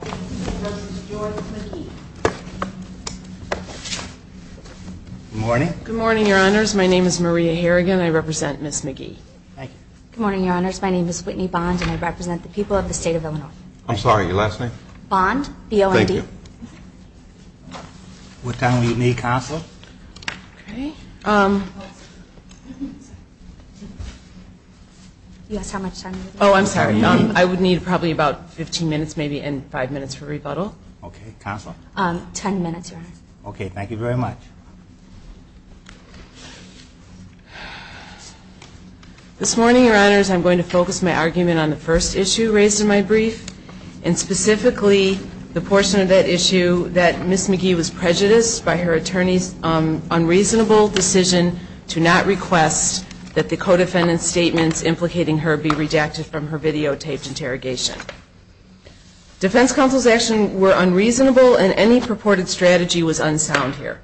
Good morning, your honors. My name is Maria Harrigan. I represent Ms. McGee. Good morning, your honors. My name is Whitney Bond, and I represent the people of the state of Illinois. I'm sorry, your last name? Bond, B-O-N-D. What time will you meet me, Counselor? You asked how much time we would need? Oh, I'm sorry. I would need probably about five minutes for rebuttal. Okay. Counselor? Ten minutes, your honors. Okay. Thank you very much. This morning, your honors, I'm going to focus my argument on the first issue raised in my brief, and specifically the portion of that issue that Ms. McGee was prejudiced by her attorney's unreasonable decision to not request that the co-defendant's statements implicating her be redacted from her videotaped interrogation. Defense counsel's actions were unreasonable and any purported strategy was unsound here.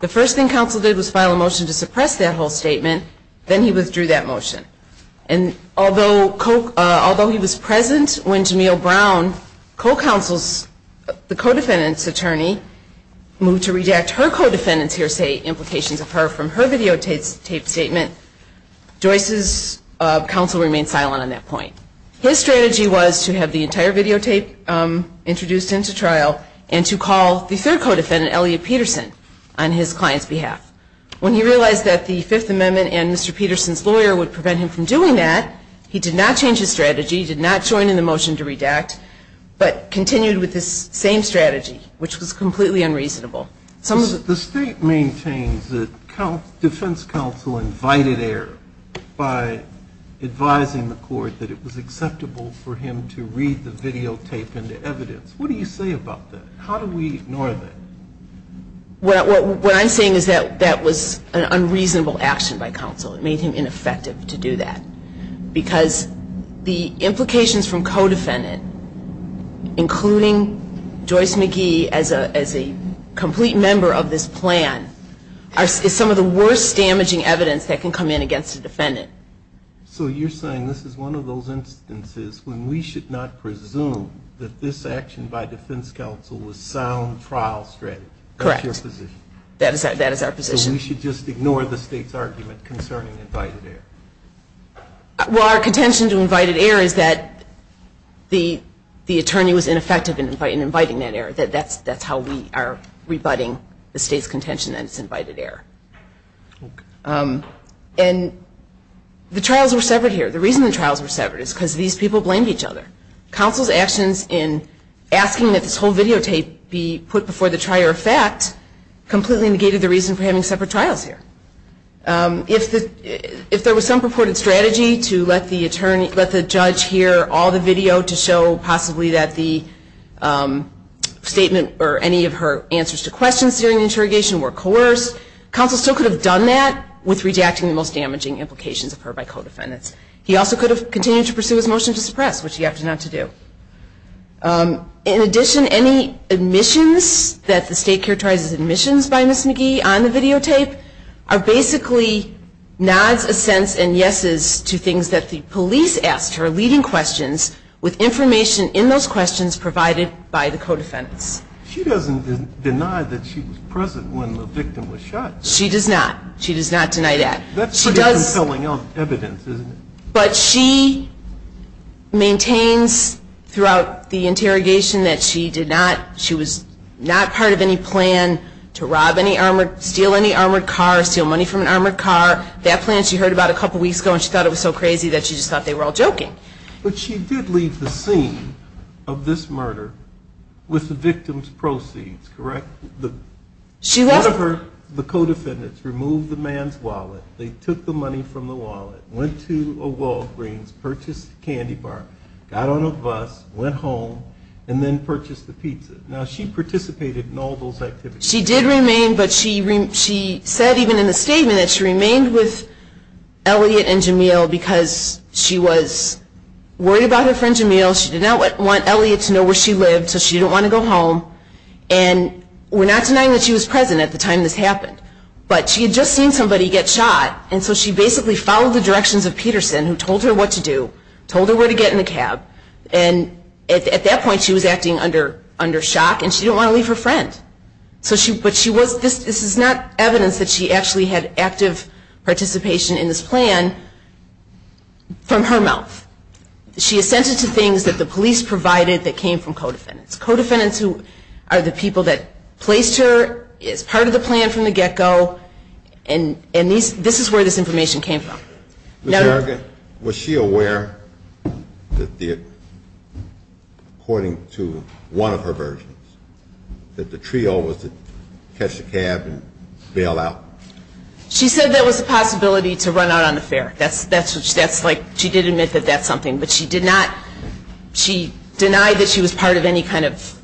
The first thing counsel did was file a motion to suppress that whole statement, then he withdrew that motion. And although he was present when Jameel Brown, the co-defendant's attorney, moved to redact her co-defendant's of her from her videotaped statement, Joyce's counsel remained silent on that point. His strategy was to have the entire videotape introduced into trial and to call the third co-defendant, Elliot Peterson, on his client's behalf. When he realized that the Fifth Amendment and Mr. Peterson's lawyer would prevent him from doing that, he did not change his strategy, he did not join in the motion to redact, but continued with this same strategy, which was to have the entire videotape introduced into trial and to call the third co-defendant, Now, the court maintains that defense counsel invited error by advising the court that it was acceptable for him to read the videotape into evidence. What do you say about that? How do we ignore that? Well, what I'm saying is that that was an unreasonable action by counsel. It made him some of the worst damaging evidence that can come in against a defendant. So you're saying this is one of those instances when we should not presume that this action by defense counsel was sound trial strategy? Correct. That's your position? That is our position. So we should just ignore the state's argument concerning invited error? Well, our contention to invited error is that the attorney was ineffective in inviting that error. That's how we are rebutting the state's contention that it's invited error. And the trials were severed here. The reason the trials were severed is because these people blamed each other. Counsel's actions in asking that this whole videotape be put before the trier of fact completely negated the reason for having separate trials here. If there was some purported strategy to let the judge hear all the video to show possibly that the statement or any of her answers to questions during the interrogation were coerced, counsel still could have done that with rejecting the most damaging implications of her by co-defendants. He also could have continued to pursue his motion to suppress, which he opted not to do. In addition, any admissions that the state characterizes as admissions by Ms. McGee on the videotape are basically nods, assents, and yeses to things that the police asked, her leading questions, with information in those questions provided by the co-defendants. She doesn't deny that she was present when the victim was shot. She does not. She does not deny that. That's pretty compelling evidence, isn't it? But she maintains throughout the interrogation that she did not, she was not part of any plan to rob any armored, steal any armored car, steal money from an armored car. That plan she heard about a couple weeks ago and she thought it was so crazy that she just thought they were all joking. But she did leave the scene of this murder with the victim's proceeds, correct? She wasn't. One of her, the co-defendants removed the man's wallet. They took the money from the wallet, went to a Walgreens, purchased a candy bar, got on a bus, went home, and then purchased the pizza. Now, she participated in all those activities. She did remain, but she said even in the statement that she remained with Elliot and Jameel because she was worried about her friend Jameel. She did not want Elliot to know where she lived, so she didn't want to go home. And we're not denying that she was present at the time this happened, but she had just seen somebody get shot, and so she basically followed the directions of Peterson, who told her what to do, told her where to get in the cab. And at that point, she was acting under shock, and she didn't want to leave her friend. So she, but she was, this is not evidence that she actually had active participation in this plan from her mouth. She assented to things that the police provided that came from co-defendants. Co-defendants are the people that placed her as part of the plan from the get-go, and this is where this information came from. Ms. Berrigan, was she aware that the, according to one of her versions, that the trio was to catch the cab and bail out? She said there was a possibility to run out on the fare. That's like, she did admit that that's something, but she did not, she denied that she was part of any kind of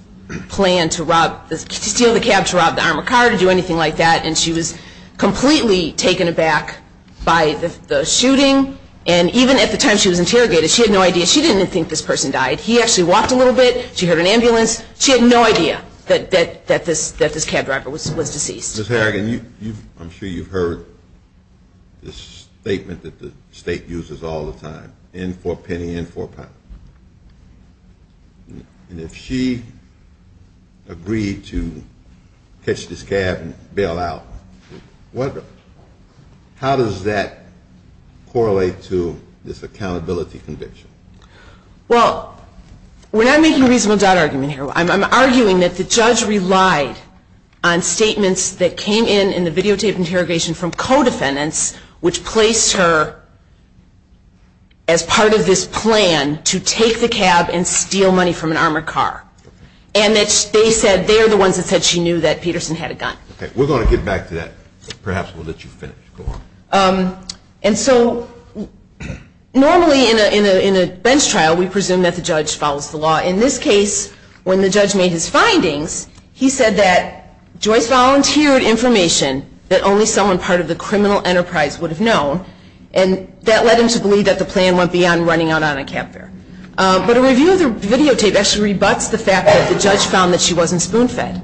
plan to rob, to steal the cab, to rob the armored car, to do anything like that, and she was completely taken aback by the shooting. And even at the time she was interrogated, she had no idea. She didn't even think this person died. He actually walked a little bit. She heard an ambulance. She had no idea that this cab driver was deceased. Ms. Berrigan, I'm sure you've heard this statement that the state uses all the time, in for a penny, in for a pound. And if she agreed to catch this cab and bail out, how does that correlate to this accountability conviction? Well, we're not making a reasonable doubt argument here. I'm arguing that the judge relied on statements that came in, in the videotaped interrogation from co-defendants, which placed her as part of this plan to take the cab and steal money from an armored car. And they said they're the ones that said she knew that Peterson had a gun. Okay. We're going to get back to that. Perhaps we'll let you finish. Go on. And so normally in a bench trial, we presume that the judge follows the law. In this case, when the judge made his findings, he said that Joyce volunteered information that only someone part of the criminal enterprise would have known. And that led him to believe that the plan went beyond running out on a cab fare. But a review of the videotape actually rebuts the fact that the judge found that she wasn't spoon-fed.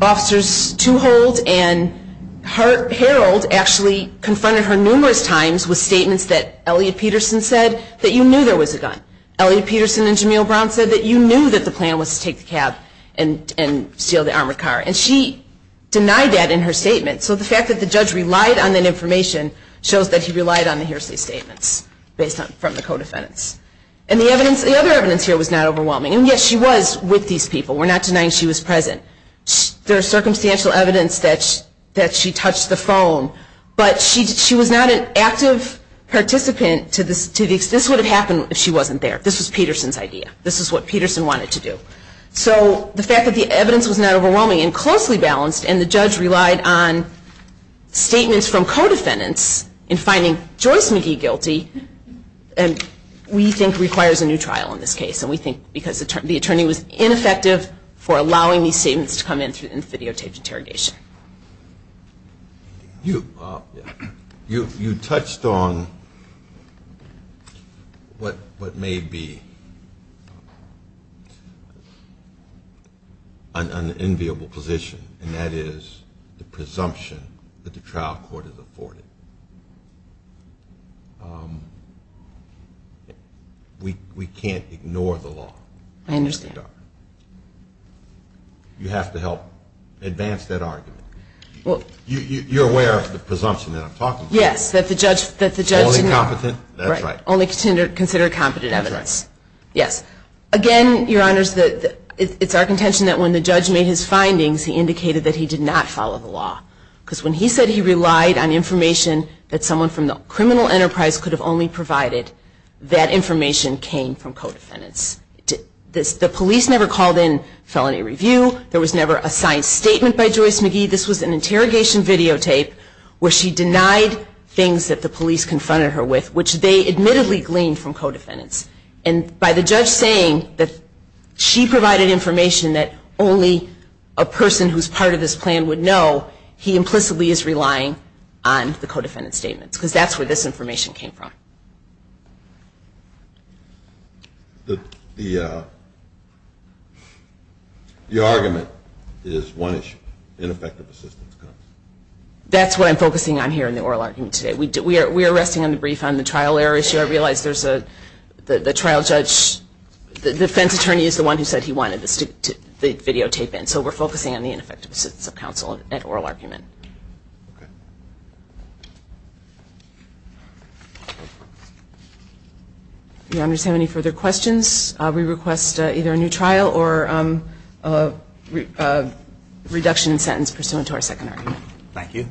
Officers Tuhold and Harold actually confronted her numerous times with statements that Elliot Peterson said, that you knew there was a gun. Elliot Peterson and Jamil Brown said that you knew that the plan was to take the cab and steal the armored car. And she denied that in her statement. So the fact that the judge relied on that information shows that he relied on the hearsay statements from the co-defendants. And the other evidence here was not overwhelming. And, yes, she was with these people. We're not denying she was present. There is circumstantial evidence that she touched the phone. But she was not an active participant to this. This would have happened if she wasn't there. This was Peterson's idea. This is what Peterson wanted to do. So the fact that the evidence was not overwhelming and closely balanced and the judge relied on statements from co-defendants in finding Joyce McGee guilty, we think requires a new trial in this case. And we think because the attorney was ineffective for allowing these statements to come in through videotaped interrogation. You touched on what may be an enviable position, and that is the presumption that the trial court is afforded. We can't ignore the law. I understand. You have to help advance that argument. You're aware of the presumption that I'm talking about? Yes. Only competent? That's right. Only consider competent evidence. Yes. Again, Your Honors, it's our contention that when the judge made his findings, he indicated that he did not follow the law. Because when he said he relied on information that someone from the criminal enterprise could have only provided, that information came from co-defendants. The police never called in felony review. There was never a signed statement by Joyce McGee. This was an interrogation videotape where she denied things that the police confronted her with, which they admittedly gleaned from co-defendants. And by the judge saying that she provided information that only a person who's part of this plan would know, he implicitly is relying on the co-defendant statements. Because that's where this information came from. The argument is one issue, ineffective assistance counsel. That's what I'm focusing on here in the oral argument today. We are resting on the brief on the trial error issue. I realize there's the trial judge, the defense attorney is the one who said he wanted the videotape in. So we're focusing on the ineffective assistance of counsel at oral argument. If you understand any further questions, we request either a new trial or a reduction in sentence pursuant to our second argument. Thank you.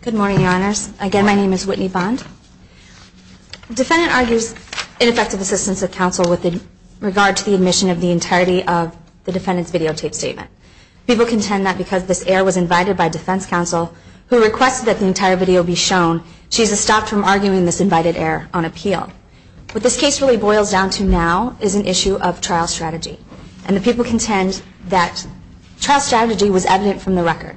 Good morning, Your Honors. Again, my name is Whitney Bond. The defendant argues ineffective assistance of counsel with regard to the admission of the entirety of the defendant's videotape statement. People contend that because this error was invited by defense counsel, who requested that the entire video be shown, she's stopped from arguing this invited error on appeal. What this case really boils down to now is an issue of trial strategy. And the people contend that trial strategy was evident from the record.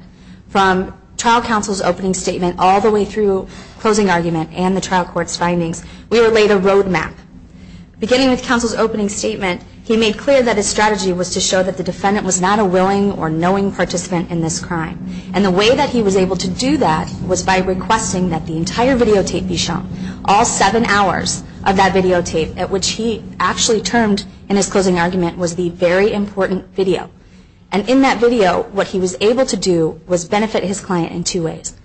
From trial counsel's opening statement all the way through closing argument and the trial court's findings, we laid a road map. Beginning with counsel's opening statement, he made clear that his strategy was to show that the defendant was not a willing or knowing participant in this crime. And the way that he was able to do that was by requesting that the entire videotape be shown. All seven hours of that videotape, at which he actually termed in his closing argument, was the very important video. And in that video, what he was able to do was benefit his client in two ways.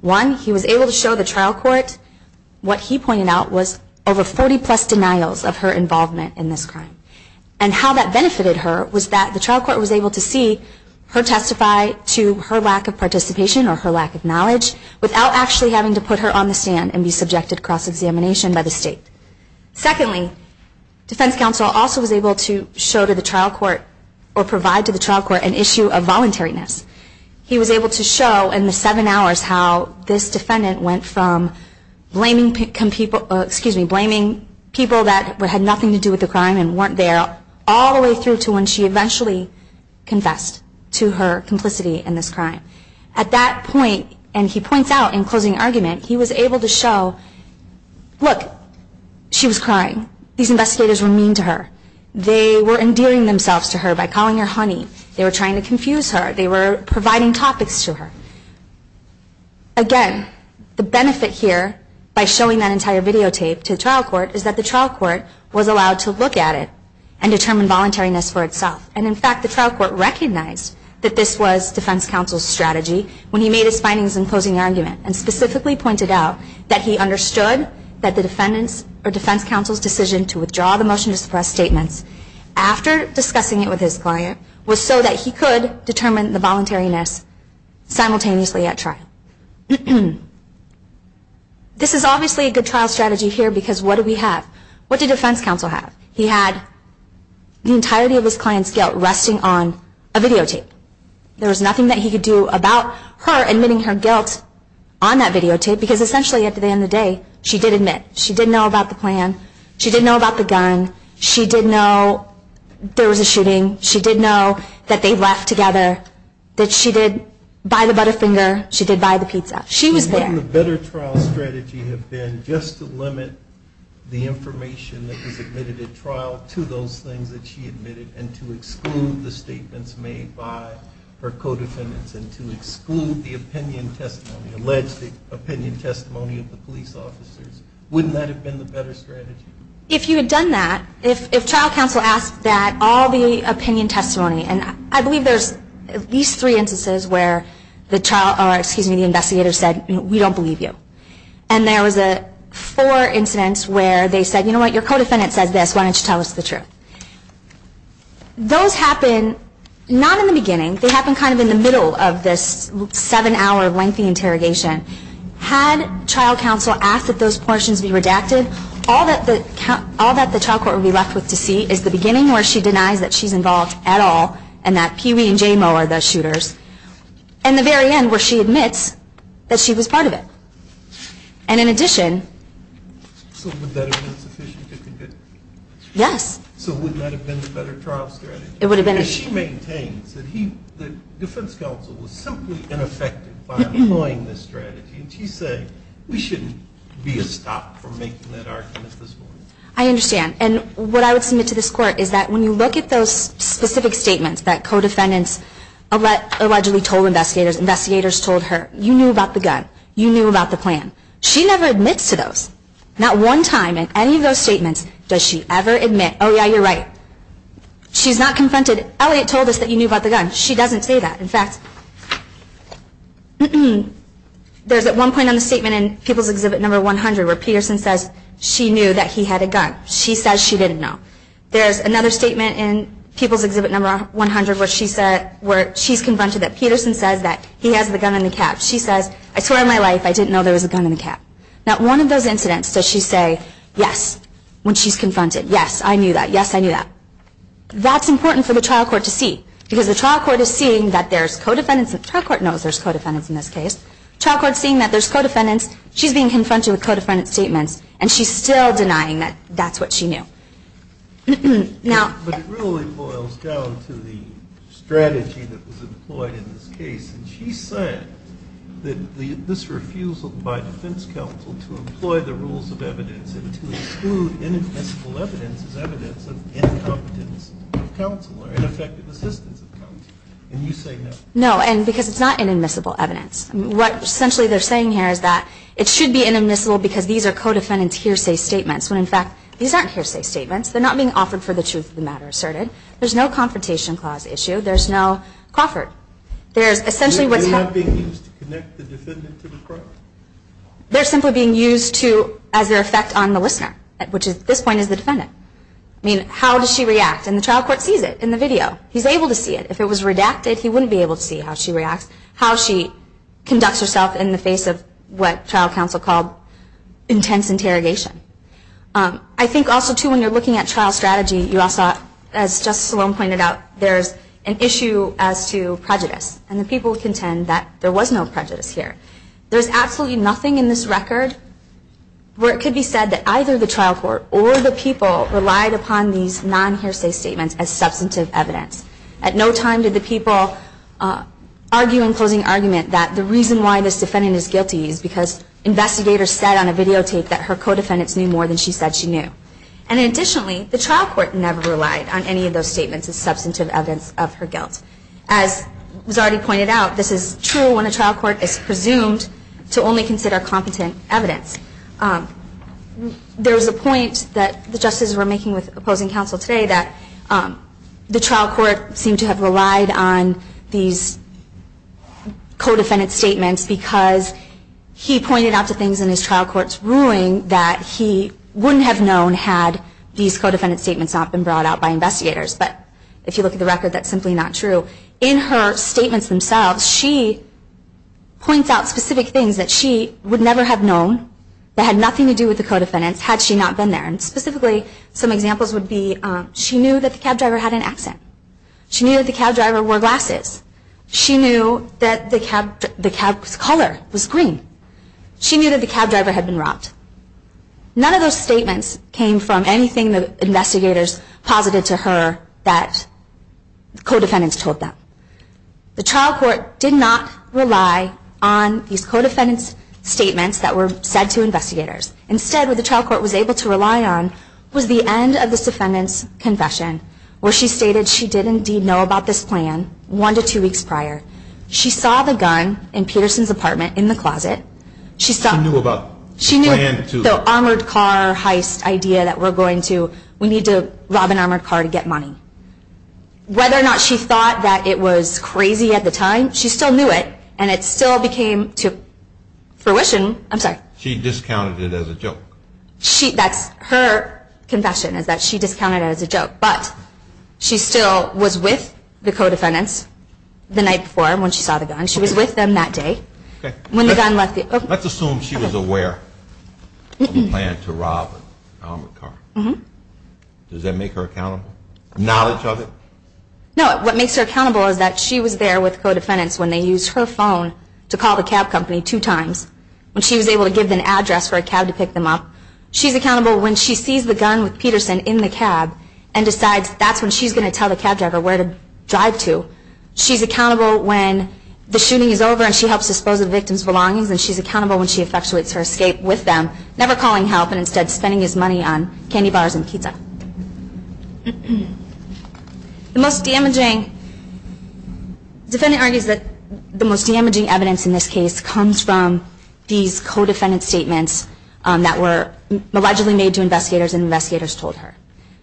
One, he was able to show the trial court what he pointed out was over 40 plus denials of her involvement in this crime. And how that benefited her was that the trial court was able to see her testify to her lack of participation or her lack of knowledge without actually having to put her on the stand and be subjected to cross-examination by the state. Secondly, defense counsel also was able to show to the trial court or provide to the trial court an issue of voluntariness. He was able to show in the seven hours how this defendant went from blaming people that had nothing to do with the crime and weren't there all the way through to when she eventually confessed to her complicity in this crime. At that point, and he points out in closing argument, he was able to show, look, she was crying. These investigators were mean to her. They were endearing themselves to her by calling her honey. They were trying to confuse her. They were providing topics to her. Again, the benefit here by showing that entire videotape to the trial court is that the trial court was allowed to look at it and determine voluntariness for itself. And in fact, the trial court recognized that this was defense counsel's strategy when he made his findings in closing argument and specifically pointed out that he understood that the defense counsel's decision to withdraw the motion to suppress statements after discussing it with his client was so that he could determine the voluntariness simultaneously at trial. This is obviously a good trial strategy here because what do we have? What did defense counsel have? He had the entirety of his client's guilt resting on a videotape. There was nothing that he could do about her admitting her guilt on that videotape because essentially at the end of the day, she did admit. She did know about the plan. She did know about the gun. She did know there was a shooting. She did know that they left together, that she did buy the Butterfinger. She did buy the pizza. She was there. Wouldn't the better trial strategy have been just to limit the information that was admitted at trial to those things that she admitted and to exclude the statements made by her co-defendants and to exclude the opinion testimony, alleged opinion testimony of the police officers? Wouldn't that have been the better strategy? If you had done that, if trial counsel asked that all the opinion testimony and I believe there's at least three instances where the investigator said, we don't believe you, and there was four incidents where they said, you know what, your co-defendant says this. Why don't you tell us the truth? Those happen not in the beginning. They happen kind of in the middle of this seven-hour lengthy interrogation. Had trial counsel asked that those portions be redacted, all that the trial court would be left with to see is the beginning where she denies that she's involved at all and that Pee Wee and J-Mo are the shooters and the very end where she admits that she was part of it. And in addition. So would that have been sufficient to convict? Yes. So would that have been the better trial strategy? It would have been. And she maintains that defense counsel was simply ineffective by employing this strategy. And she's saying we shouldn't be a stop for making that argument this morning. I understand. And what I would submit to this court is that when you look at those specific statements that co-defendants allegedly told investigators, investigators told her, you knew about the gun, you knew about the plan. She never admits to those. Not one time in any of those statements does she ever admit, oh, yeah, you're right. She's not confronted. Elliot told us that you knew about the gun. She doesn't say that. In fact, there's at one point on the statement in People's Exhibit No. 100 where Peterson says she knew that he had a gun. She says she didn't know. There's another statement in People's Exhibit No. 100 where she's confronted that Peterson says that he has the gun in the cab. She says, I swear on my life, I didn't know there was a gun in the cab. Not one of those incidents does she say, yes, when she's confronted. Yes, I knew that. Yes, I knew that. That's important for the trial court to see. Because the trial court is seeing that there's co-defendants. The trial court knows there's co-defendants in this case. The trial court is seeing that there's co-defendants. She's being confronted with co-defendant statements, and she's still denying that that's what she knew. But it really boils down to the strategy that was employed in this case. She said that this refusal by defense counsel to employ the rules of evidence and to exclude inadmissible evidence as evidence of incompetence of counsel or ineffective assistance of counsel. And you say no. No, because it's not inadmissible evidence. What essentially they're saying here is that it should be inadmissible because these are co-defendants' hearsay statements, when in fact these aren't hearsay statements. They're not being offered for the truth of the matter asserted. There's no confrontation clause issue. There's no coffered. They're not being used to connect the defendant to the crime. They're simply being used as their effect on the listener, which at this point is the defendant. I mean, how does she react? And the trial court sees it in the video. He's able to see it. If it was redacted, he wouldn't be able to see how she reacts, how she conducts herself in the face of what trial counsel called intense interrogation. I think also, too, when you're looking at trial strategy, as Justice Sloan pointed out, there's an issue as to prejudice, and the people contend that there was no prejudice here. There's absolutely nothing in this record where it could be said that either the trial court or the people relied upon these non-hearsay statements as substantive evidence. At no time did the people argue in closing argument that the reason why this defendant is guilty is because investigators said on a videotape that her co-defendants knew more than she said she knew. And additionally, the trial court never relied on any of those statements as substantive evidence of her guilt. As was already pointed out, this is true when a trial court is presumed to only consider competent evidence. There was a point that the justices were making with opposing counsel today that the trial court seemed to have relied on these co-defendant statements because he pointed out the things in his trial court's ruling that he wouldn't have known had these co-defendant statements not been brought out by investigators. But if you look at the record, that's simply not true. In her statements themselves, she points out specific things that she would never have known that had nothing to do with the co-defendants had she not been there. And specifically, some examples would be she knew that the cab driver had an accent. She knew that the cab driver wore glasses. She knew that the cab's color was green. She knew that the cab driver had been robbed. None of those statements came from anything that investigators posited to her that co-defendants told them. The trial court did not rely on these co-defendants' statements that were said to investigators. Instead, what the trial court was able to rely on was the end of this defendant's confession where she stated she did indeed know about this plan one to two weeks prior. She saw the gun in Peterson's apartment in the closet. She knew about the armored car heist idea that we need to rob an armored car to get money. Whether or not she thought that it was crazy at the time, she still knew it, and it still became fruition. I'm sorry. She discounted it as a joke. That's her confession is that she discounted it as a joke, but she still was with the co-defendants the night before when she saw the gun. She was with them that day. Let's assume she was aware of a plan to rob an armored car. Does that make her accountable? Knowledge of it? No. What makes her accountable is that she was there with co-defendants when they used her phone to call the cab company two times, when she was able to give them an address for a cab to pick them up. She's accountable when she sees the gun with Peterson in the cab and decides that's when she's going to tell the cab driver where to drive to. She's accountable when the shooting is over and she helps dispose of the victim's belongings, and she's accountable when she effectuates her escape with them, never calling help and instead spending his money on candy bars and pizza. Defendant argues that the most damaging evidence in this case comes from these co-defendant statements that were allegedly made to investigators and investigators told her.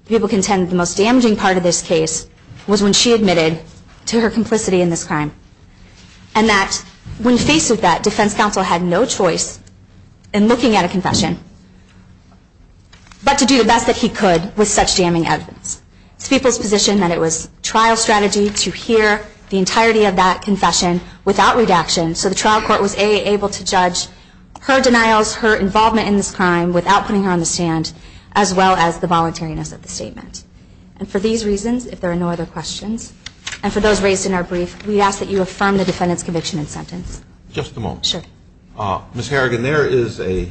People contend the most damaging part of this case was when she admitted to her complicity in this crime and that when faced with that, defense counsel had no choice in looking at a confession, but to do the best that he could with such damning evidence. It's people's position that it was trial strategy to hear the entirety of that confession without redaction, so the trial court was able to judge her denials, her involvement in this crime without putting her on the stand, as well as the voluntariness of the statement. And for these reasons, if there are no other questions, and for those raised in our brief, we ask that you affirm the defendant's conviction and sentence. Just a moment. Sure. Ms. Harrigan, there is a...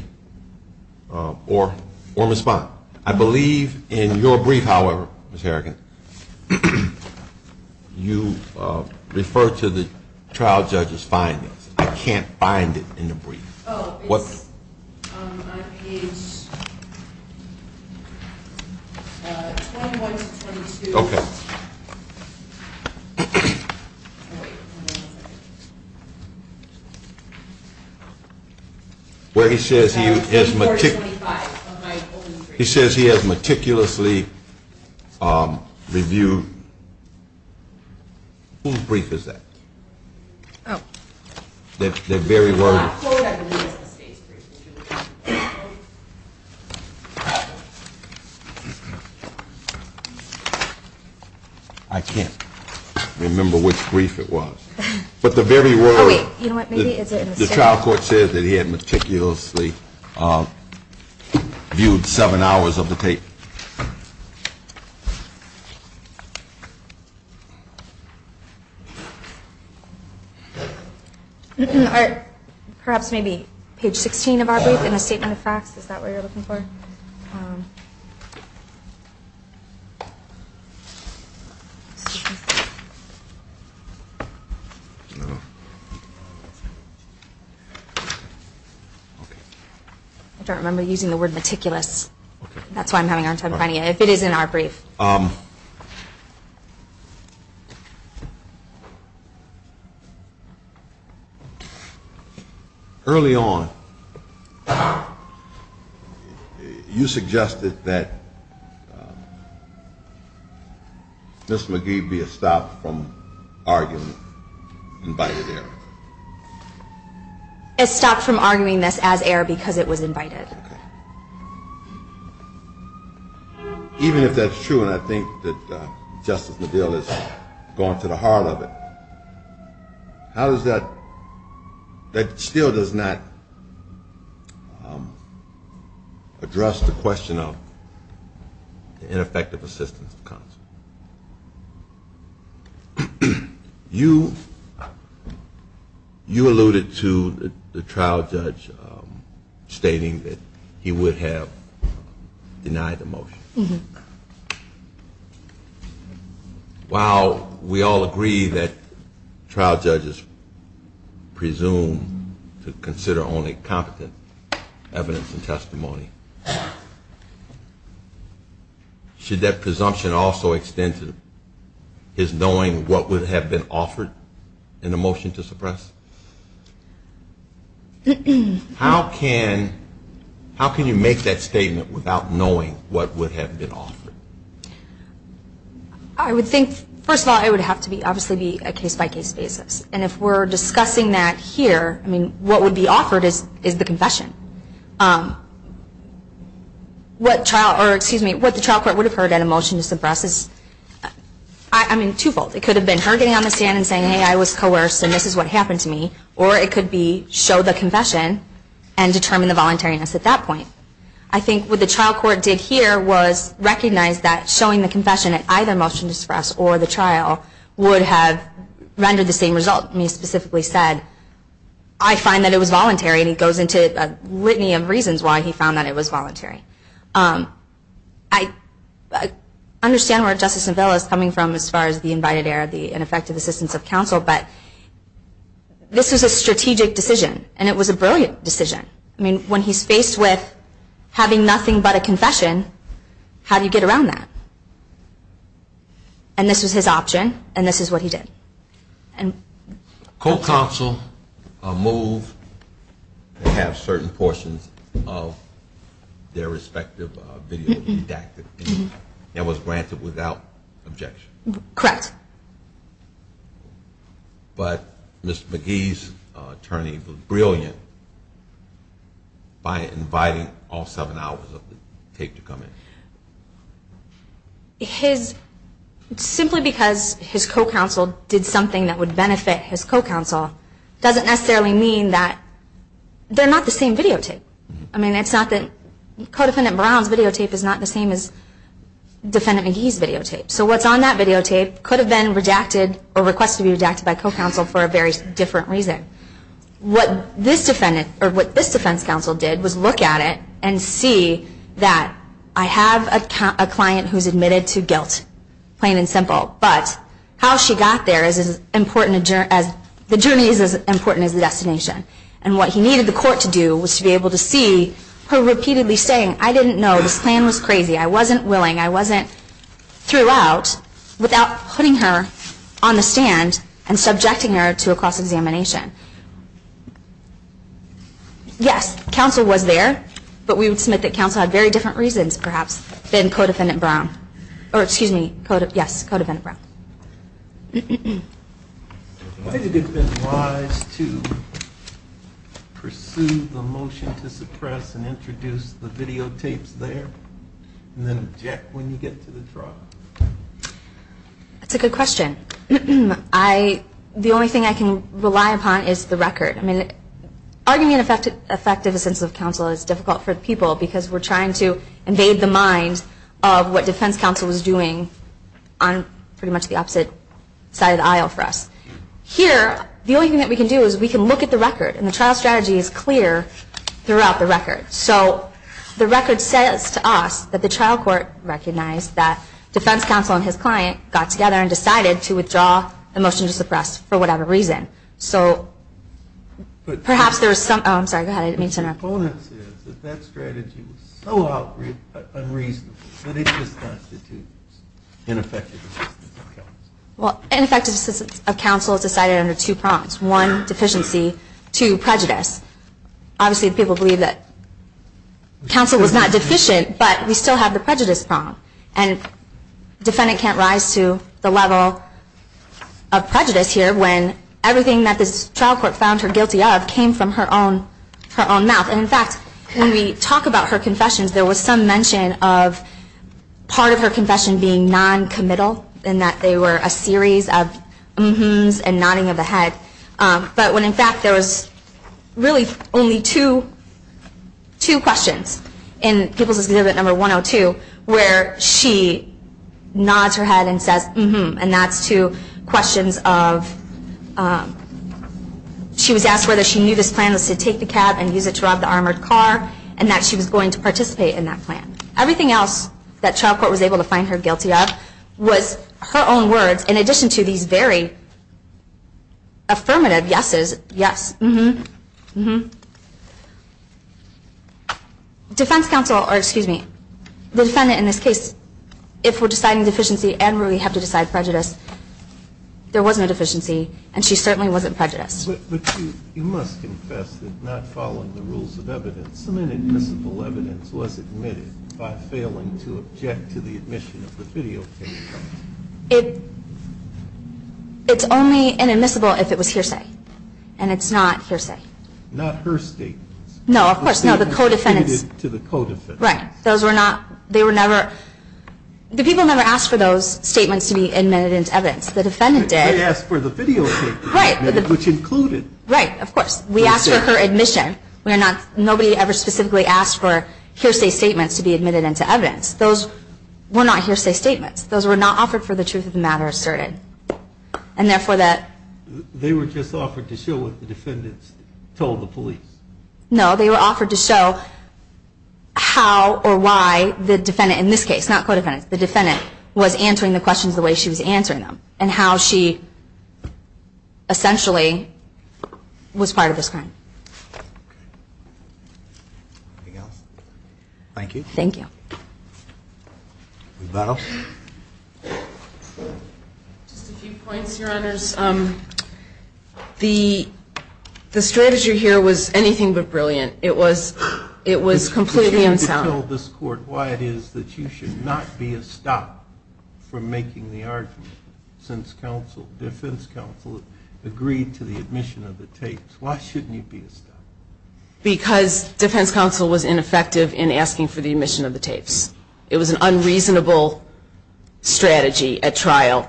Or respond. I believe in your brief, however, Ms. Harrigan, you refer to the trial judge's findings. I can't find it in the brief. Oh, it's on page 21 to 22. Okay. Wait. Where he says he has meticulously reviewed. Whose brief is that? Oh. That very word. I quote, I believe it's the state's brief. I can't remember which brief it was. But the very word. Oh, wait. You know what? Maybe it's in the state. The trial court says that he had meticulously viewed seven hours of the tape. Okay. Perhaps maybe page 16 of our brief in a statement of facts. Is that what you're looking for? I don't remember using the word meticulous. That's why I'm having a hard time finding it. If it is in our brief. Early on, you suggested that Ms. McGee be stopped from arguing invited error. As stopped from arguing this as error because it was invited. Okay. Even if that's true, and I think that Justice McGill has gone to the heart of it, how does that still does not address the question of ineffective assistance of counsel? You alluded to the trial judge stating that he would have denied the motion. While we all agree that trial judges presume to consider only competent evidence and testimony, should that presumption also extend to his knowing what would have been offered in the motion to suppress? How can you make that statement without knowing what would have been offered? I would think, first of all, it would have to be obviously a case-by-case basis. And if we're discussing that here, I mean, what would be offered is the confession. What the trial court would have heard in a motion to suppress is, I mean, twofold. It could have been her getting on the stand and saying, hey, I was coerced and this is what happened to me. Or it could be show the confession and determine the voluntariness at that point. I think what the trial court did here was recognize that showing the confession at either motion to suppress or the trial would have rendered the same result. And he specifically said, I find that it was voluntary. And he goes into a litany of reasons why he found that it was voluntary. I understand where Justice Savella is coming from as far as the invited air, the ineffective assistance of counsel. But this was a strategic decision, and it was a brilliant decision. I mean, when he's faced with having nothing but a confession, how do you get around that? And this was his option, and this is what he did. Co-counsel moved to have certain portions of their respective video redacted. That was granted without objection. Correct. But Mr. McGee's attorney was brilliant by inviting all seven hours of the tape to come in. Simply because his co-counsel did something that would benefit his co-counsel doesn't necessarily mean that they're not the same videotape. I mean, it's not that Co-Defendant Brown's videotape is not the same as Defendant McGee's videotape. So what's on that videotape could have been redacted or requested to be redacted by co-counsel for a very different reason. What this defense counsel did was look at it and see that I have a client who's admitted to guilt, plain and simple. But how she got there, the journey is as important as the destination. And what he needed the court to do was to be able to see her repeatedly saying, I didn't know, this plan was crazy, I wasn't willing, I wasn't throughout, without putting her on the stand and subjecting her to a cross-examination. Yes, counsel was there, but we would submit that counsel had very different reasons, perhaps, than Co-Defendant Brown. Or excuse me, yes, Co-Defendant Brown. I think it would have been wise to pursue the motion to suppress and introduce the videotapes there and then object when you get to the trial. That's a good question. The only thing I can rely upon is the record. I mean, arguing an effective sense of counsel is difficult for people because we're trying to invade the mind of what defense counsel was doing on pretty much the opposite side of the aisle for us. Here, the only thing that we can do is we can look at the record, and the trial strategy is clear throughout the record. So the record says to us that the trial court recognized that defense counsel and his client got together and decided to withdraw the motion to suppress for whatever reason. So perhaps there was some – oh, I'm sorry, go ahead, I didn't mean to interrupt. The component is that that strategy was so unreasonable that it just constitutes ineffective assistance of counsel. Well, ineffective assistance of counsel is decided under two prongs. One, deficiency. Two, prejudice. Obviously, people believe that counsel was not deficient, but we still have the prejudice prong. And defendant can't rise to the level of prejudice here when everything that this trial court found her guilty of came from her own mouth. And in fact, when we talk about her confessions, there was some mention of part of her confession being noncommittal in that they were a series of mm-hmms and nodding of the head. But when in fact there was really only two questions in People's Exhibit No. 102 where she nods her head and says mm-hmm, and that's two questions of – she was asked whether she knew this plan was to take the cab and use it to rob the armored car and that she was going to participate in that plan. Everything else that trial court was able to find her guilty of was her own words in addition to these very affirmative yeses, yes, mm-hmm, mm-hmm. Defense counsel, or excuse me, the defendant in this case, if we're deciding deficiency and really have to decide prejudice, there wasn't a deficiency and she certainly wasn't prejudiced. But you must confess that not following the rules of evidence, some inadmissible evidence was admitted by failing to object to the admission of the videotape. It's only inadmissible if it was hearsay, and it's not hearsay. Not her statements. No, of course not. The co-defendants. The statements were admitted to the co-defendants. Right. Those were not – they were never – the people never asked for those statements to be admitted into evidence. The defendant did. They asked for the videotape. Right. Which included. Right, of course. We asked for her admission. We are not – nobody ever specifically asked for hearsay statements to be admitted into evidence. Those were not hearsay statements. Those were not offered for the truth of the matter asserted, and therefore that – They were just offered to show what the defendants told the police. No, they were offered to show how or why the defendant – in this case, not co-defendants – the defendant was answering the questions the way she was answering them, and how she essentially was part of this crime. Anything else? Thank you. Thank you. Rebuttal. Just a few points, Your Honors. The strategy here was anything but brilliant. It was completely unsound. If you're going to tell this Court why it is that you should not be a stop for making the argument, since defense counsel agreed to the admission of the tapes, why shouldn't you be a stop? Because defense counsel was ineffective in asking for the admission of the tapes. It was an unreasonable strategy at trial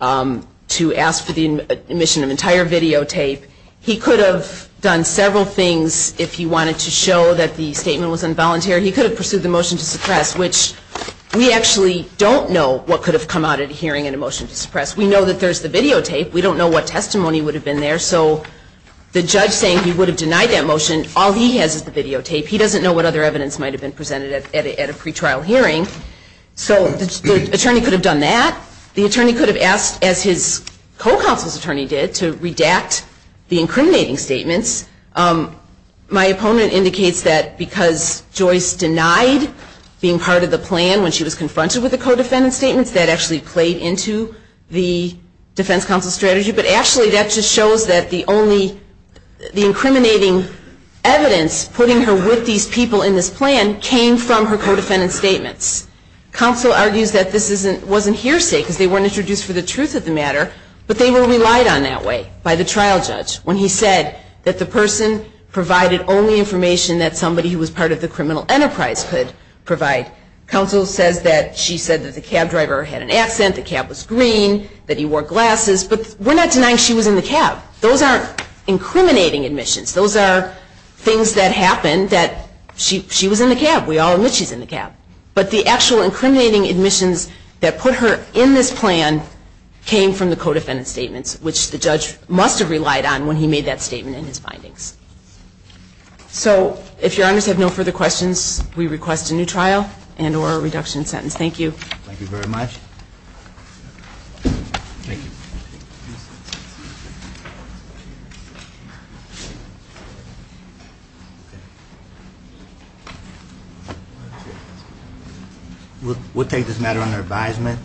to ask for the admission of an entire videotape. He could have done several things if he wanted to show that the statement was involuntary. He could have pursued the motion to suppress, which we actually don't know what could have come out of hearing a motion to suppress. We know that there's the videotape. We don't know what testimony would have been there. So the judge saying he would have denied that motion, all he has is the videotape. He doesn't know what other evidence might have been presented at a pretrial hearing. So the attorney could have done that. The attorney could have asked, as his co-counsel's attorney did, to redact the incriminating statements. My opponent indicates that because Joyce denied being part of the plan when she was confronted with the co-defendant statements, that actually played into the defense counsel strategy. But actually, that just shows that the only incriminating evidence putting her with these people in this plan came from her co-defendant statements. Counsel argues that this wasn't hearsay because they weren't introduced for the truth of the matter, but they were relied on that way by the trial judge when he said that the person provided only information that somebody who was part of the criminal enterprise could provide. Counsel says that she said that the cab driver had an accent, the cab was green, that he wore glasses, but we're not denying she was in the cab. Those aren't incriminating admissions. Those are things that happened that she was in the cab. We all admit she's in the cab. But the actual incriminating admissions that put her in this plan came from the co-defendant statements, which the judge must have relied on when he made that statement in his findings. So if your honors have no further questions, we request a new trial and or a reduction in sentence. Thank you. Thank you very much. Thank you. We'll take this matter under advisement.